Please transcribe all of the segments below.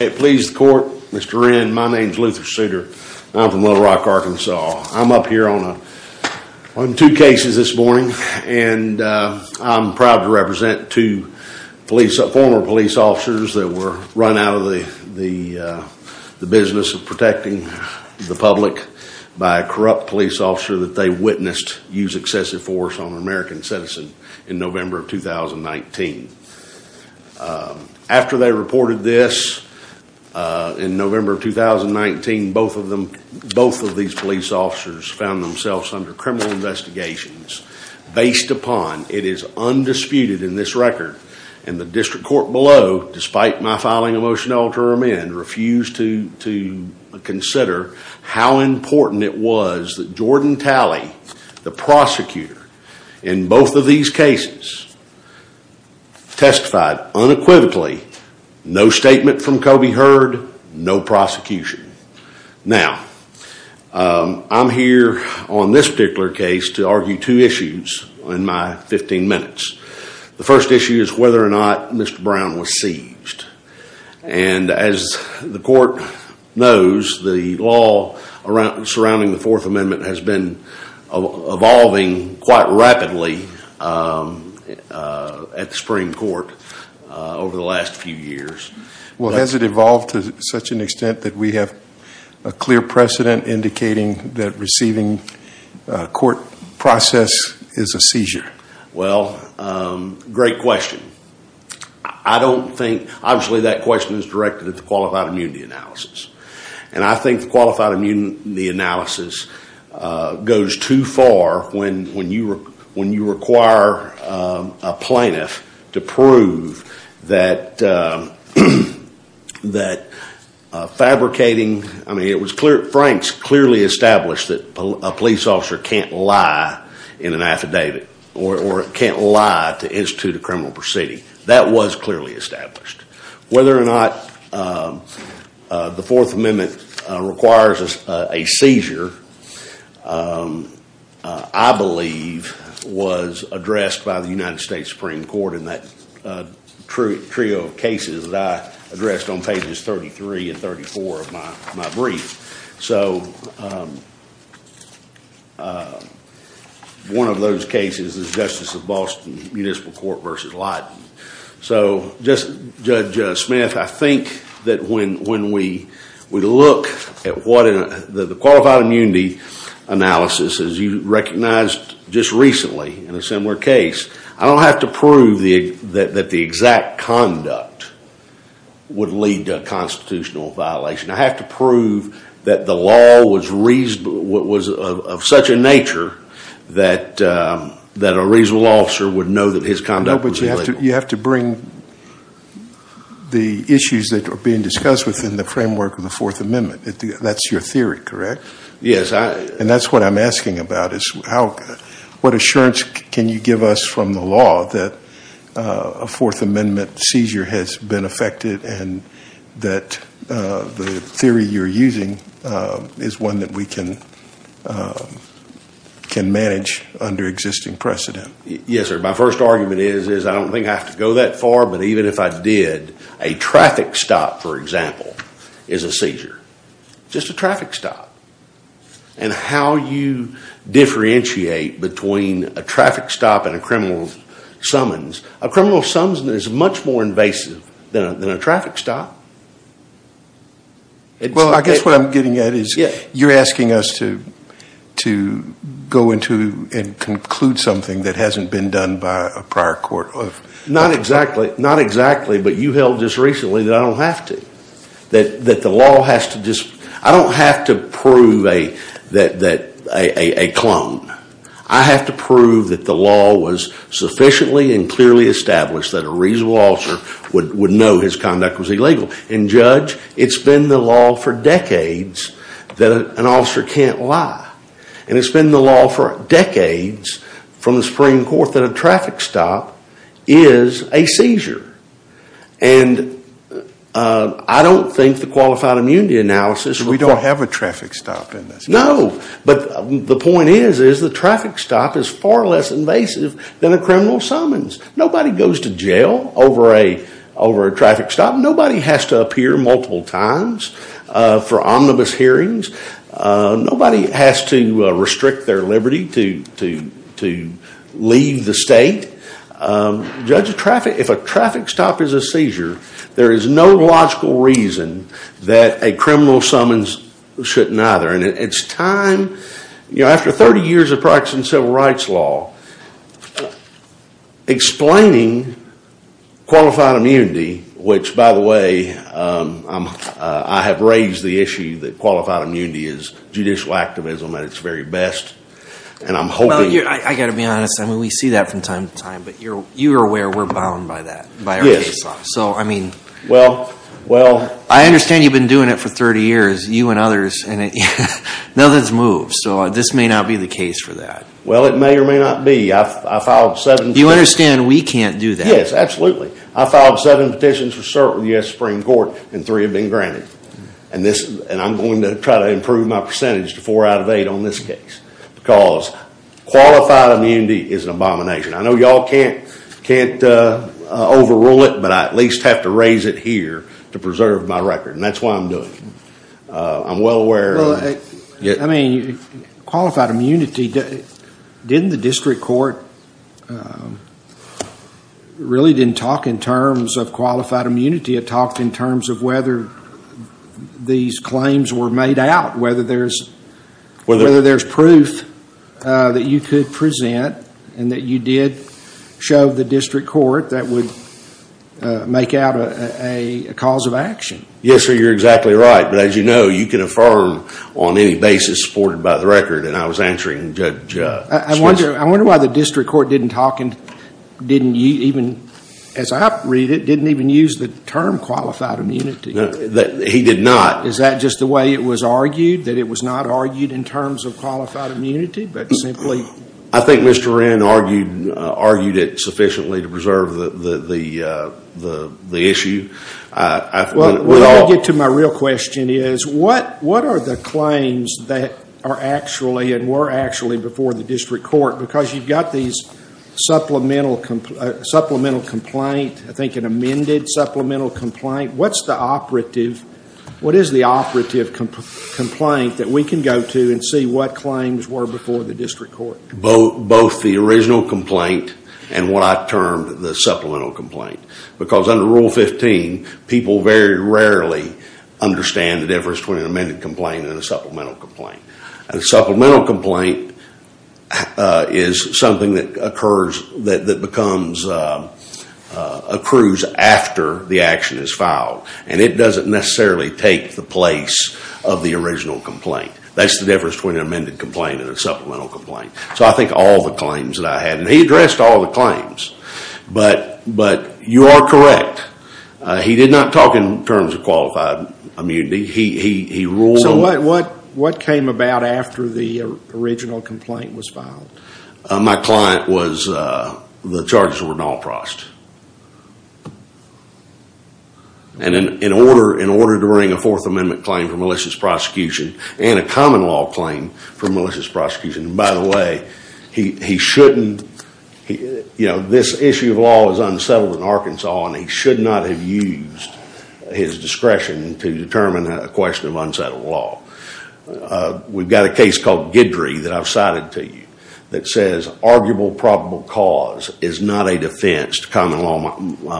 Please the court. Mr. Wren, my name is Luther Souter. I'm from Little Rock, Arkansas. I'm up here on on two cases this morning and I'm proud to represent two police, former police officers that were run out of the business of protecting the public by a corrupt police officer that they witnessed use excessive force on an American citizen in November of 2019. After they reported this in November of 2019, both of them, both of these police officers found themselves under criminal investigations based upon, it is undisputed in this record, and the district court below, despite my filing a motion to alter them in, refused to consider how important it was that Jordan Talley, the prosecutor, in both of these cases testified unequivocally, no statement from Kobe Heard, no prosecution. Now, I'm here on this particular case to argue two issues in my 15 minutes. The first issue is whether or not Mr. Brown was seized, and as the court knows, the law surrounding the Fourth Amendment has been evolving quite rapidly at the Supreme Court over the last few years. Well, has it evolved to such an extent that we have a clear precedent indicating that receiving a court process is a seizure? Well, great question. I don't think, obviously that question is directed at the qualified immunity analysis, and I think the qualified immunity analysis goes too far when you require a plaintiff to prove that fabricating, I mean, it was clear, Frank's clearly established that a police officer can't lie in an affidavit or can't lie to institute a criminal proceeding. That was clearly established. Whether or not the Fourth Amendment requires a seizure, I believe was addressed by the United States Supreme Court in that trio of cases that I addressed on pages 33 and 34 of my brief. So one of those cases is Justice of Boston Municipal Court v. Lyden. So Judge Smith, I think that when we look at what the qualified immunity analysis, as you recognized just recently in a similar case, I don't have to prove that the exact conduct would lead to a constitutional violation. I have to that the law was of such a nature that a reasonable officer would know that his conduct was illegal. You have to bring the issues that are being discussed within the framework of the Fourth Amendment. That's your theory, correct? Yes. And that's what I'm asking about is what assurance can you give us from the law that a Fourth Amendment seizure has been affected and that the theory you're using is one that we can manage under existing precedent? Yes, sir. My first argument is I don't think I have to go that far, but even if I did, a traffic stop, for example, is a seizure. Just a traffic stop. And how you differentiate between a traffic stop and a criminal summons, a criminal summons is much more invasive than a traffic stop. Well, I guess what I'm getting at is you're asking us to go into and conclude something that hasn't been done by a prior court. Not exactly, but you held just recently that I don't have to. I don't have to prove a clone. I have to prove that the law was sufficiently and clearly established that a reasonable officer would know his conduct was illegal. And, Judge, it's been the law for decades that an officer can't lie. And it's been the law for decades from the Supreme Court that a traffic stop is a seizure. And I don't think the qualified immunity analysis... We don't have a traffic stop in this case. No, but the point is the traffic stop is far less invasive than a criminal summons. Nobody goes to jail over a traffic stop. Nobody has to appear multiple times for omnibus hearings. Nobody has to restrict their liberty to leave the state. Judge, if a traffic stop is a seizure, there is no logical reason that a criminal summons shouldn't either. And it's time, after 30 years of practicing civil rights law, explaining qualified immunity, which, by the way, I have raised the issue that qualified immunity is judicial activism at its very best. And I'm hoping... Well, I've got to be honest. We see that from time to time, but you're aware we're bound by that, by our case law. So, I mean... Well, well... I understand you've been doing it for 30 years, you and others, and nothing's moved. So this may not be the case for that. Well, it may or may not be. I filed seven... You understand we can't do that? Yes, absolutely. I filed seven petitions for cert with the U.S. Supreme Court, and three have been granted. And I'm going to try to improve my percentage to four out of eight on this case because qualified immunity is an abomination. I know y'all can't can't overrule it, but I at least have to raise it here to preserve my record. And that's why I'm doing it. I'm well aware... Well, I mean, qualified immunity... Didn't the district court... really didn't talk in terms of qualified immunity. It talked in terms of whether these claims were made out, whether there's... Whether there's proof that you could present and that you did show the district court that would make out a cause of action. Yes, sir, you're exactly right. But as you know, you can affirm on any basis supported by the record, and I was answering Judge... I wonder why the district court didn't talk and didn't even, as I read it, didn't even use the term qualified immunity. He did not. Is that just the way it was argued, that it was not argued in terms of qualified immunity, but simply... I think Mr. Wren argued it sufficiently to preserve the issue. Well, what I'll get to my real question is what are the claims that are actually and were actually before the district court? Because you've got these supplemental complaint, I think an amended supplemental complaint. What's the operative... complaint that we can go to and see what claims were before the district court? Both the original complaint and what I termed the supplemental complaint. Because under Rule 15, people very rarely understand the difference between an amended complaint and a supplemental complaint. A supplemental complaint is something that occurs... that becomes... accrues after the action is filed, and it doesn't necessarily take the place of the original complaint. That's the difference between an amended complaint and a supplemental complaint. So I think all the claims that I had, and he addressed all the claims, but you are correct. He did not talk in terms of qualified immunity. He ruled... So what came about after the original complaint was filed? My client was... the charges were Nalprost. And in order... in order to bring a Fourth Amendment claim for malicious prosecution and a common law claim for malicious prosecution, and by the way, he shouldn't... you know, this issue of law is unsettled in Arkansas, and he should not have used his discretion to determine a question of unsettled law. We've got a case called Guidry that I've cited to you that says arguable probable cause is not a defense to common law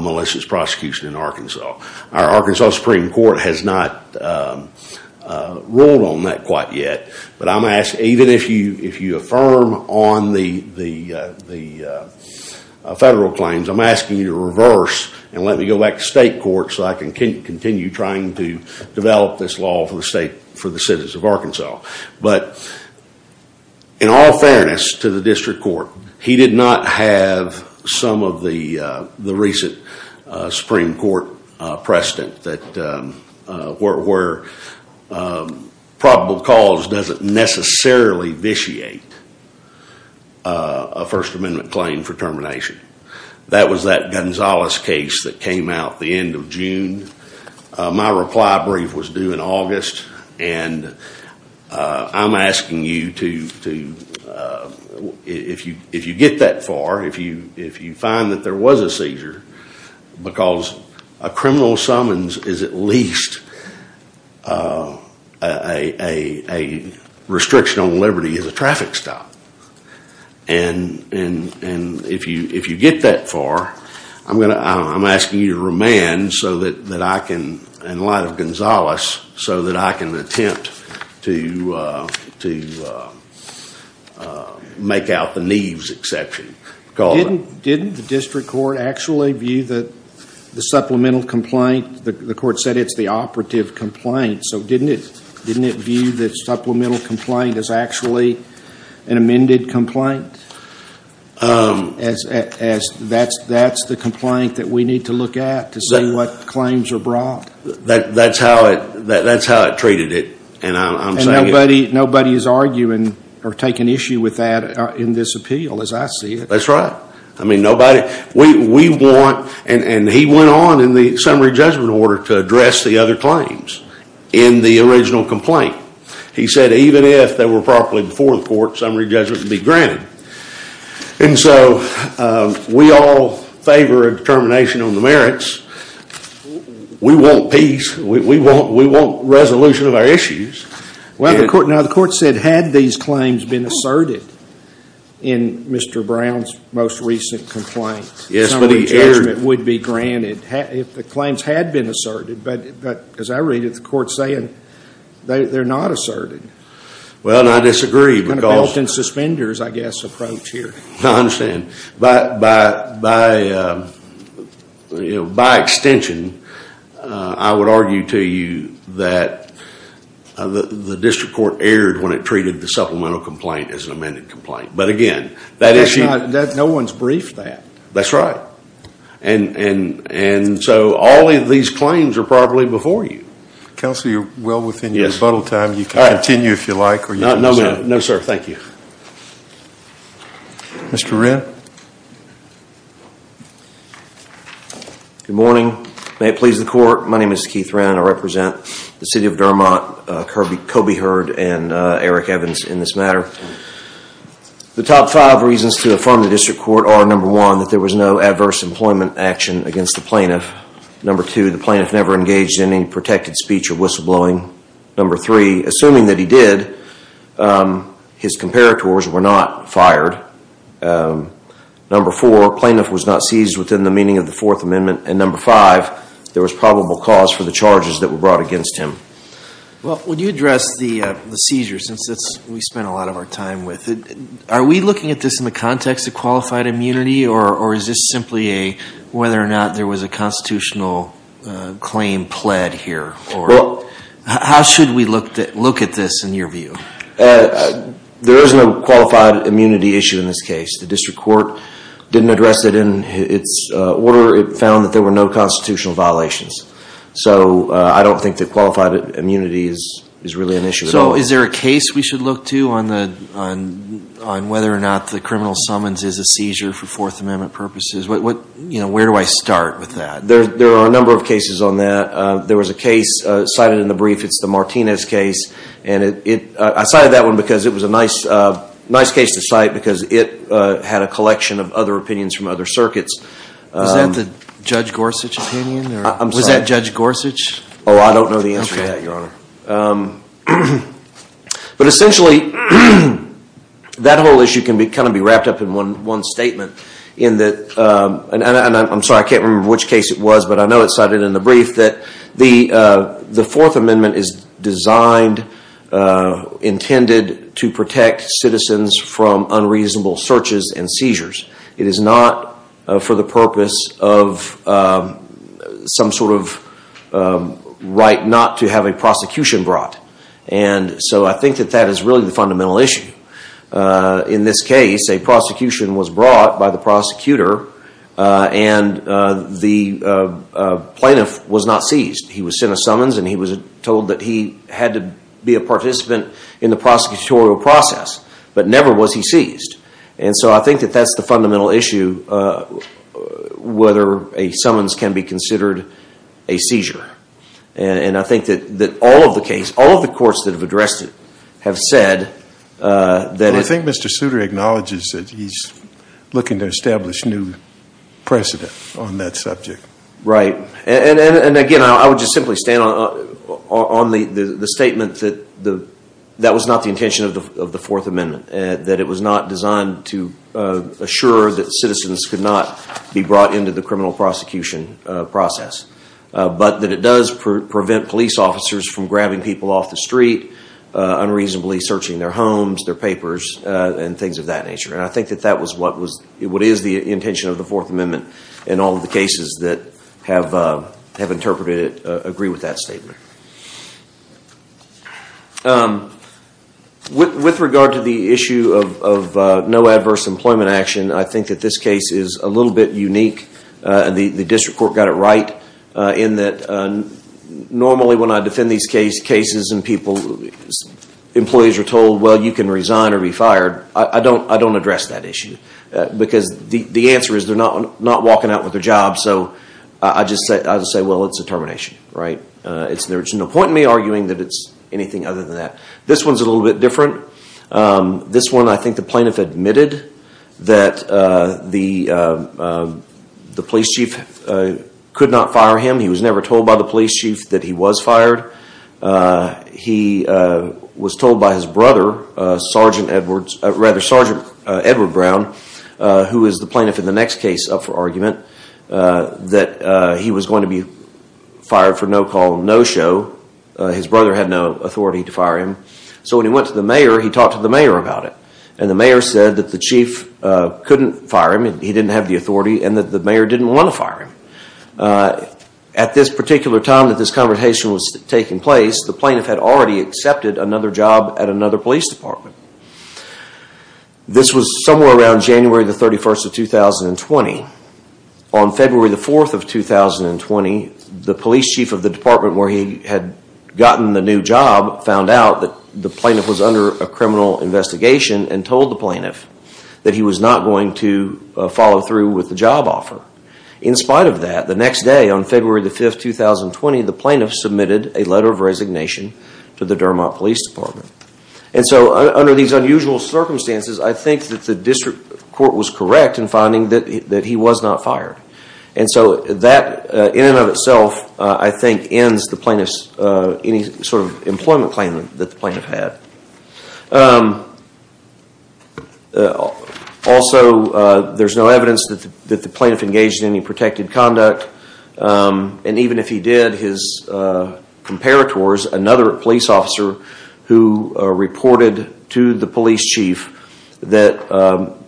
malicious prosecution in Arkansas. Our Arkansas Supreme Court has not ruled on that quite yet, but I'm asking... even if you affirm on the federal claims, I'm asking you to reverse and let me go back to state court so I can continue trying to develop this law for the state... for the citizens of Arkansas. But in all fairness to the district court, he did not have some of the recent Supreme Court precedent that... where probable cause doesn't necessarily vitiate a First Amendment claim for termination. That was that Gonzalez case that came out the end of June. My reply brief was due in August, and I'm asking you to... if you get that far, if you find that there was a seizure, because a criminal summons is at least a restriction on liberty as a traffic stop, and if you get that far, I'm going to... I'm asking you to remand so that I can... in light of Gonzalez, so that I can attempt to make out the Neves exception. Didn't the district court actually view that the supplemental complaint... the court said it's the operative complaint, so didn't it view the supplemental complaint as actually an amended complaint? That's the complaint that we need to look at to see what claims are brought. That's how it treated it, and I'm saying... And nobody is arguing or taking issue with that in this appeal as I see it. That's right. I mean nobody... we want... and he went on in the summary judgment order to address the other claims in the original complaint. He said even if they were properly before the court, summary judgment would be granted. And so we all favor a determination on the merits. We want peace. We want resolution of our issues. Well, the court... now the court said had these claims been asserted in Mr. Brown's most recent complaint, summary judgment would be granted if the claims had been asserted. But as I read it, the court's saying they're not asserted. Well, and I disagree because... Belt and suspenders, I guess, approach here. I understand. By extension, I would argue to you that the district court erred when it treated the supplemental complaint as an amended complaint. But again, that issue... No one's briefed that. That's right. And so all of these claims are properly before you. Counselor, you're well within your rebuttal time. You can continue if you like. No, sir. Thank you. Mr. Wren. Good morning. May it please the court. My name is Keith Wren. I represent the city of Dermot, Kobe Heard, and Eric Evans in this matter. The top five reasons to affirm the district court are number one, that there was no adverse employment action against the plaintiff. Number two, the plaintiff never engaged in any protected speech or whistleblowing. Number three, assuming that he did, his comparators were not fired. Number four, plaintiff was not seized within the meaning of the Fourth Amendment. And number five, there was probable cause for the charges that were brought against him. Well, would you address the seizure since we spent a lot of our time with it? Are we looking at this in the context of qualified immunity or is this simply a whether or not there was a constitutional claim pled here? How should we look at this in your view? There is no qualified immunity issue in this case. The district court didn't address it in its order. It found that there were no constitutional violations. So I don't think that qualified immunity is really an issue. So is there a case we should look to on whether or not the criminal summons is a seizure for Fourth Amendment purposes? Where do I start with that? There are a number of cases on that. There was a case cited in the brief. It's the Martinez case. And I cited that one because it was a nice case to cite because it had a collection of other opinions from other circuits. Was that the Judge Gorsuch opinion? I'm sorry. Was that Judge Gorsuch? Oh, I don't know the answer to that, Your Honor. But essentially, that whole issue can be wrapped up in one statement. I'm sorry, I can't remember which case it was, but I know it's cited in the brief that the Fourth Amendment is designed, intended to protect citizens from unreasonable searches and seizures. It is not for the purpose of some sort of right not to have a prosecution brought. And so I think that that is really the fundamental issue. In this case, a prosecution was brought by the prosecutor and the plaintiff was not seized. He was sent a summons and he was told that he had to be a participant in the prosecutorial process, but never was he seized. And so I think that that's the fundamental issue, whether a summons can be considered a seizure. And I think that all of the case, all of the courts that have addressed it have said that... I think Mr. Souter acknowledges that he's looking to establish new precedent on that subject. Right. And again, I would just simply stand on the statement that that was not the intention of the Fourth Amendment, that it was not designed to assure that citizens could not be brought into the criminal prosecution process, but that it does prevent police officers from grabbing people off the street, unreasonably searching their homes, their papers, and things of that nature. And I think that that was what is the intention of the Fourth Amendment in all of the cases that have interpreted it agree with that statement. With regard to the issue of no adverse employment action, I think that this case is a little bit unique. And the district court got it right in that normally when I defend these cases and employees are told, well, you can resign or be fired, I don't address that issue. Because the answer is they're not walking out with their job. So I just say, well, it's a termination. Right. There's no point in me arguing that it's anything other than that. This one's a little bit different. This one, I think the plaintiff admitted that the police chief could not fire him. He was never told by the police chief that he was fired. He was told by his brother, Sergeant Edward Brown, who is the plaintiff in the next case up for argument, that he was going to be fired for no call, no show. His brother had no authority to fire him. So when he went to the mayor, he talked to the mayor about it. And the mayor said that the chief couldn't fire him and he didn't have the authority and that the mayor didn't want to fire him. At this particular time that this conversation was taking place, the plaintiff had already accepted another job at another police department. This was somewhere around January the 31st of 2020. On February the 4th of 2020, the police chief of the department where he had gotten the new job found out that the plaintiff was under a criminal investigation and told the plaintiff that he was not going to follow through with the job offer. In spite of that, the next day on February the 5th, 2020, the plaintiff submitted a letter of resignation to the Dermott Police Department. And so under these unusual circumstances, I think that the district court was correct in finding that he was not fired. And so that, in and of itself, I think ends any sort of employment that the plaintiff had. Also, there's no evidence that the plaintiff engaged in any protected conduct. And even if he did, his comparators, another police officer who reported to the police chief that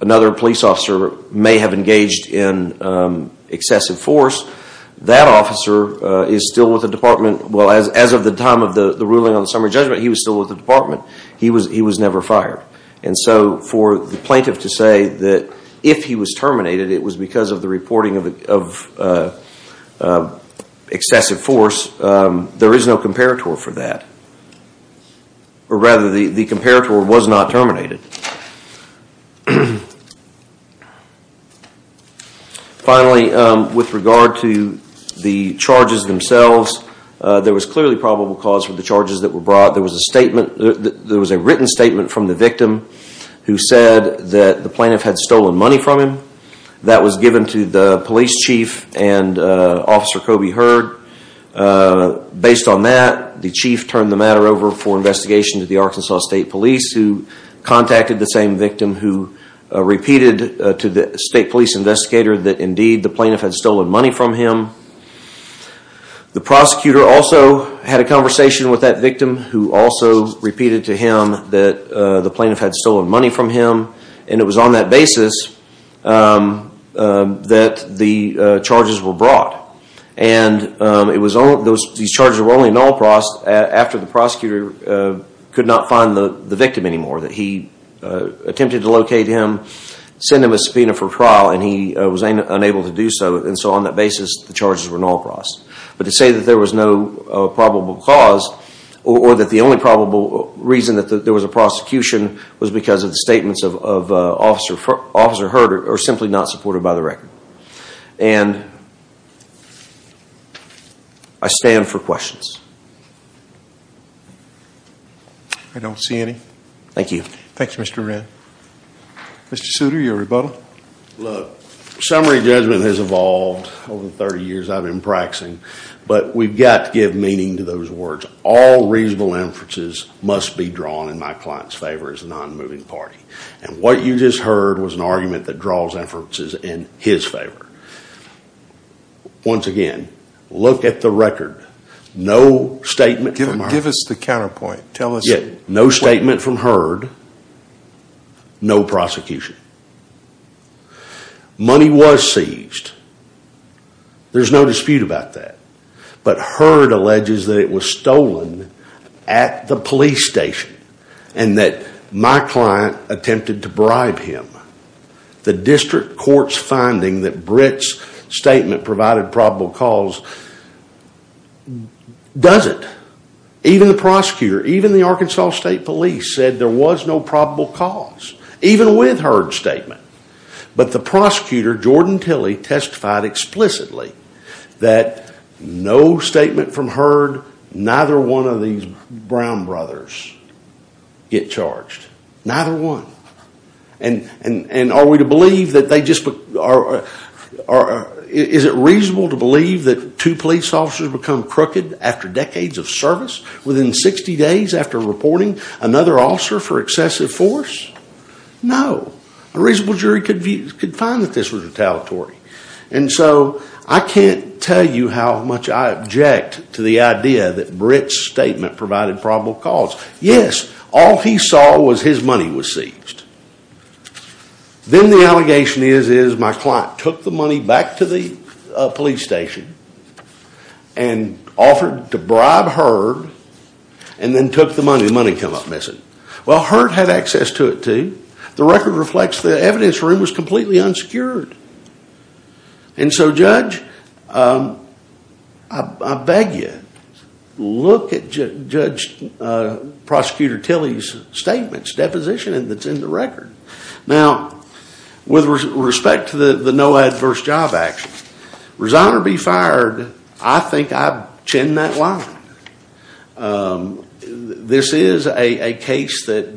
another police officer may have engaged in excessive force, that officer is still with the ruling on the summary judgment. He was still with the department. He was never fired. And so for the plaintiff to say that if he was terminated, it was because of the reporting of excessive force, there is no comparator for that. Or rather, the comparator was not terminated. Finally, with regard to the charges themselves, there was clearly probable cause for the charges that were brought. There was a written statement from the victim who said that the plaintiff had stolen money from him. That was given to the police chief and Officer Coby Hurd. Based on that, the chief turned the matter over for investigation to the Arkansas State Police who contacted the same victim who repeated to the state police investigator that indeed the plaintiff had stolen money from him. The prosecutor also had a conversation with that victim who also repeated to him that the plaintiff had stolen money from him. And it was on that basis that the charges were brought. And these charges were only in all process after the prosecutor could not find the victim anymore, that he attempted to locate him, send him a subpoena for trial, and he was unable to do so. And so on that basis, the charges were in all process. But to say that there was no probable cause or that the only probable reason that there was a prosecution was because of the statements of Officer Hurd are simply not supported by the record. And I stand for questions. I don't see any. Thank you. Thanks, Mr. Wren. Mr. Souter, your rebuttal. Look, summary judgment has evolved over the 30 years I've been practicing, but we've got to give meaning to those words. All reasonable inferences must be drawn in my client's favor as a non-moving party. And what you just heard was an argument that draws inferences in his favor. Once again, look at the record. No statement. Give us the counterpoint. Tell us. No statement from Hurd. No prosecution. Money was seized. There's no dispute about that. But Hurd alleges that it was stolen at the police station and that my client attempted to bribe him. The district court's finding that Britt's statement provided probable cause doesn't. Even the prosecutor, even the Arkansas State Police said there was no probable cause, even with Hurd's statement. But the prosecutor, Jordan Tilley, testified explicitly that no statement from Hurd, neither one of these Brown brothers get charged. Neither one. And are we to believe that they just, is it reasonable to believe that two police officers become crooked after decades of service within 60 days after reporting another officer for excessive force? No. A reasonable jury could find that this was retaliatory. And so I can't tell you how much I object to the idea that Britt's statement provided probable cause. Yes, all he saw was his money was seized. Then the allegation is, is my client took the money back to the police station and offered to bribe Hurd and then took the money. The money came up missing. Well, Hurd had access to it too. The record reflects the evidence room was completely unsecured. And so, Judge, I beg you, look at Judge Prosecutor Tilley's statements, deposition that's in the record. Now, with respect to the no adverse job action, Rosano be fired, I think I've chinned that line. This is a case that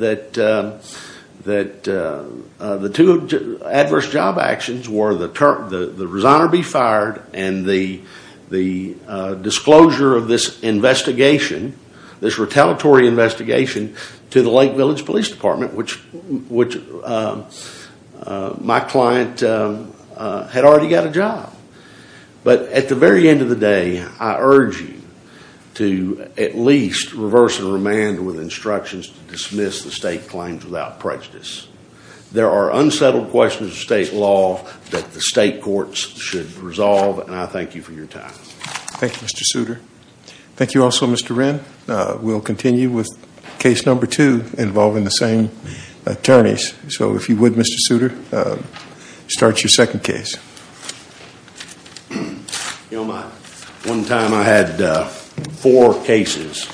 the two adverse job actions were the Rosano be fired and the disclosure of this investigation, this retaliatory investigation to the Lake Village Police Department, which my client had already got a job. But at the very end of the day, I urge you to at least reverse the remand with instructions to dismiss the state claims without prejudice. There are unsettled questions of state law that the state courts should resolve. And I thank you for your time. Thank you, Mr. Souter. Thank you also, Mr. Wren. We'll continue with case number two involving the same attorneys. So if you would, Mr. Souter, start your second case. One time I had four cases.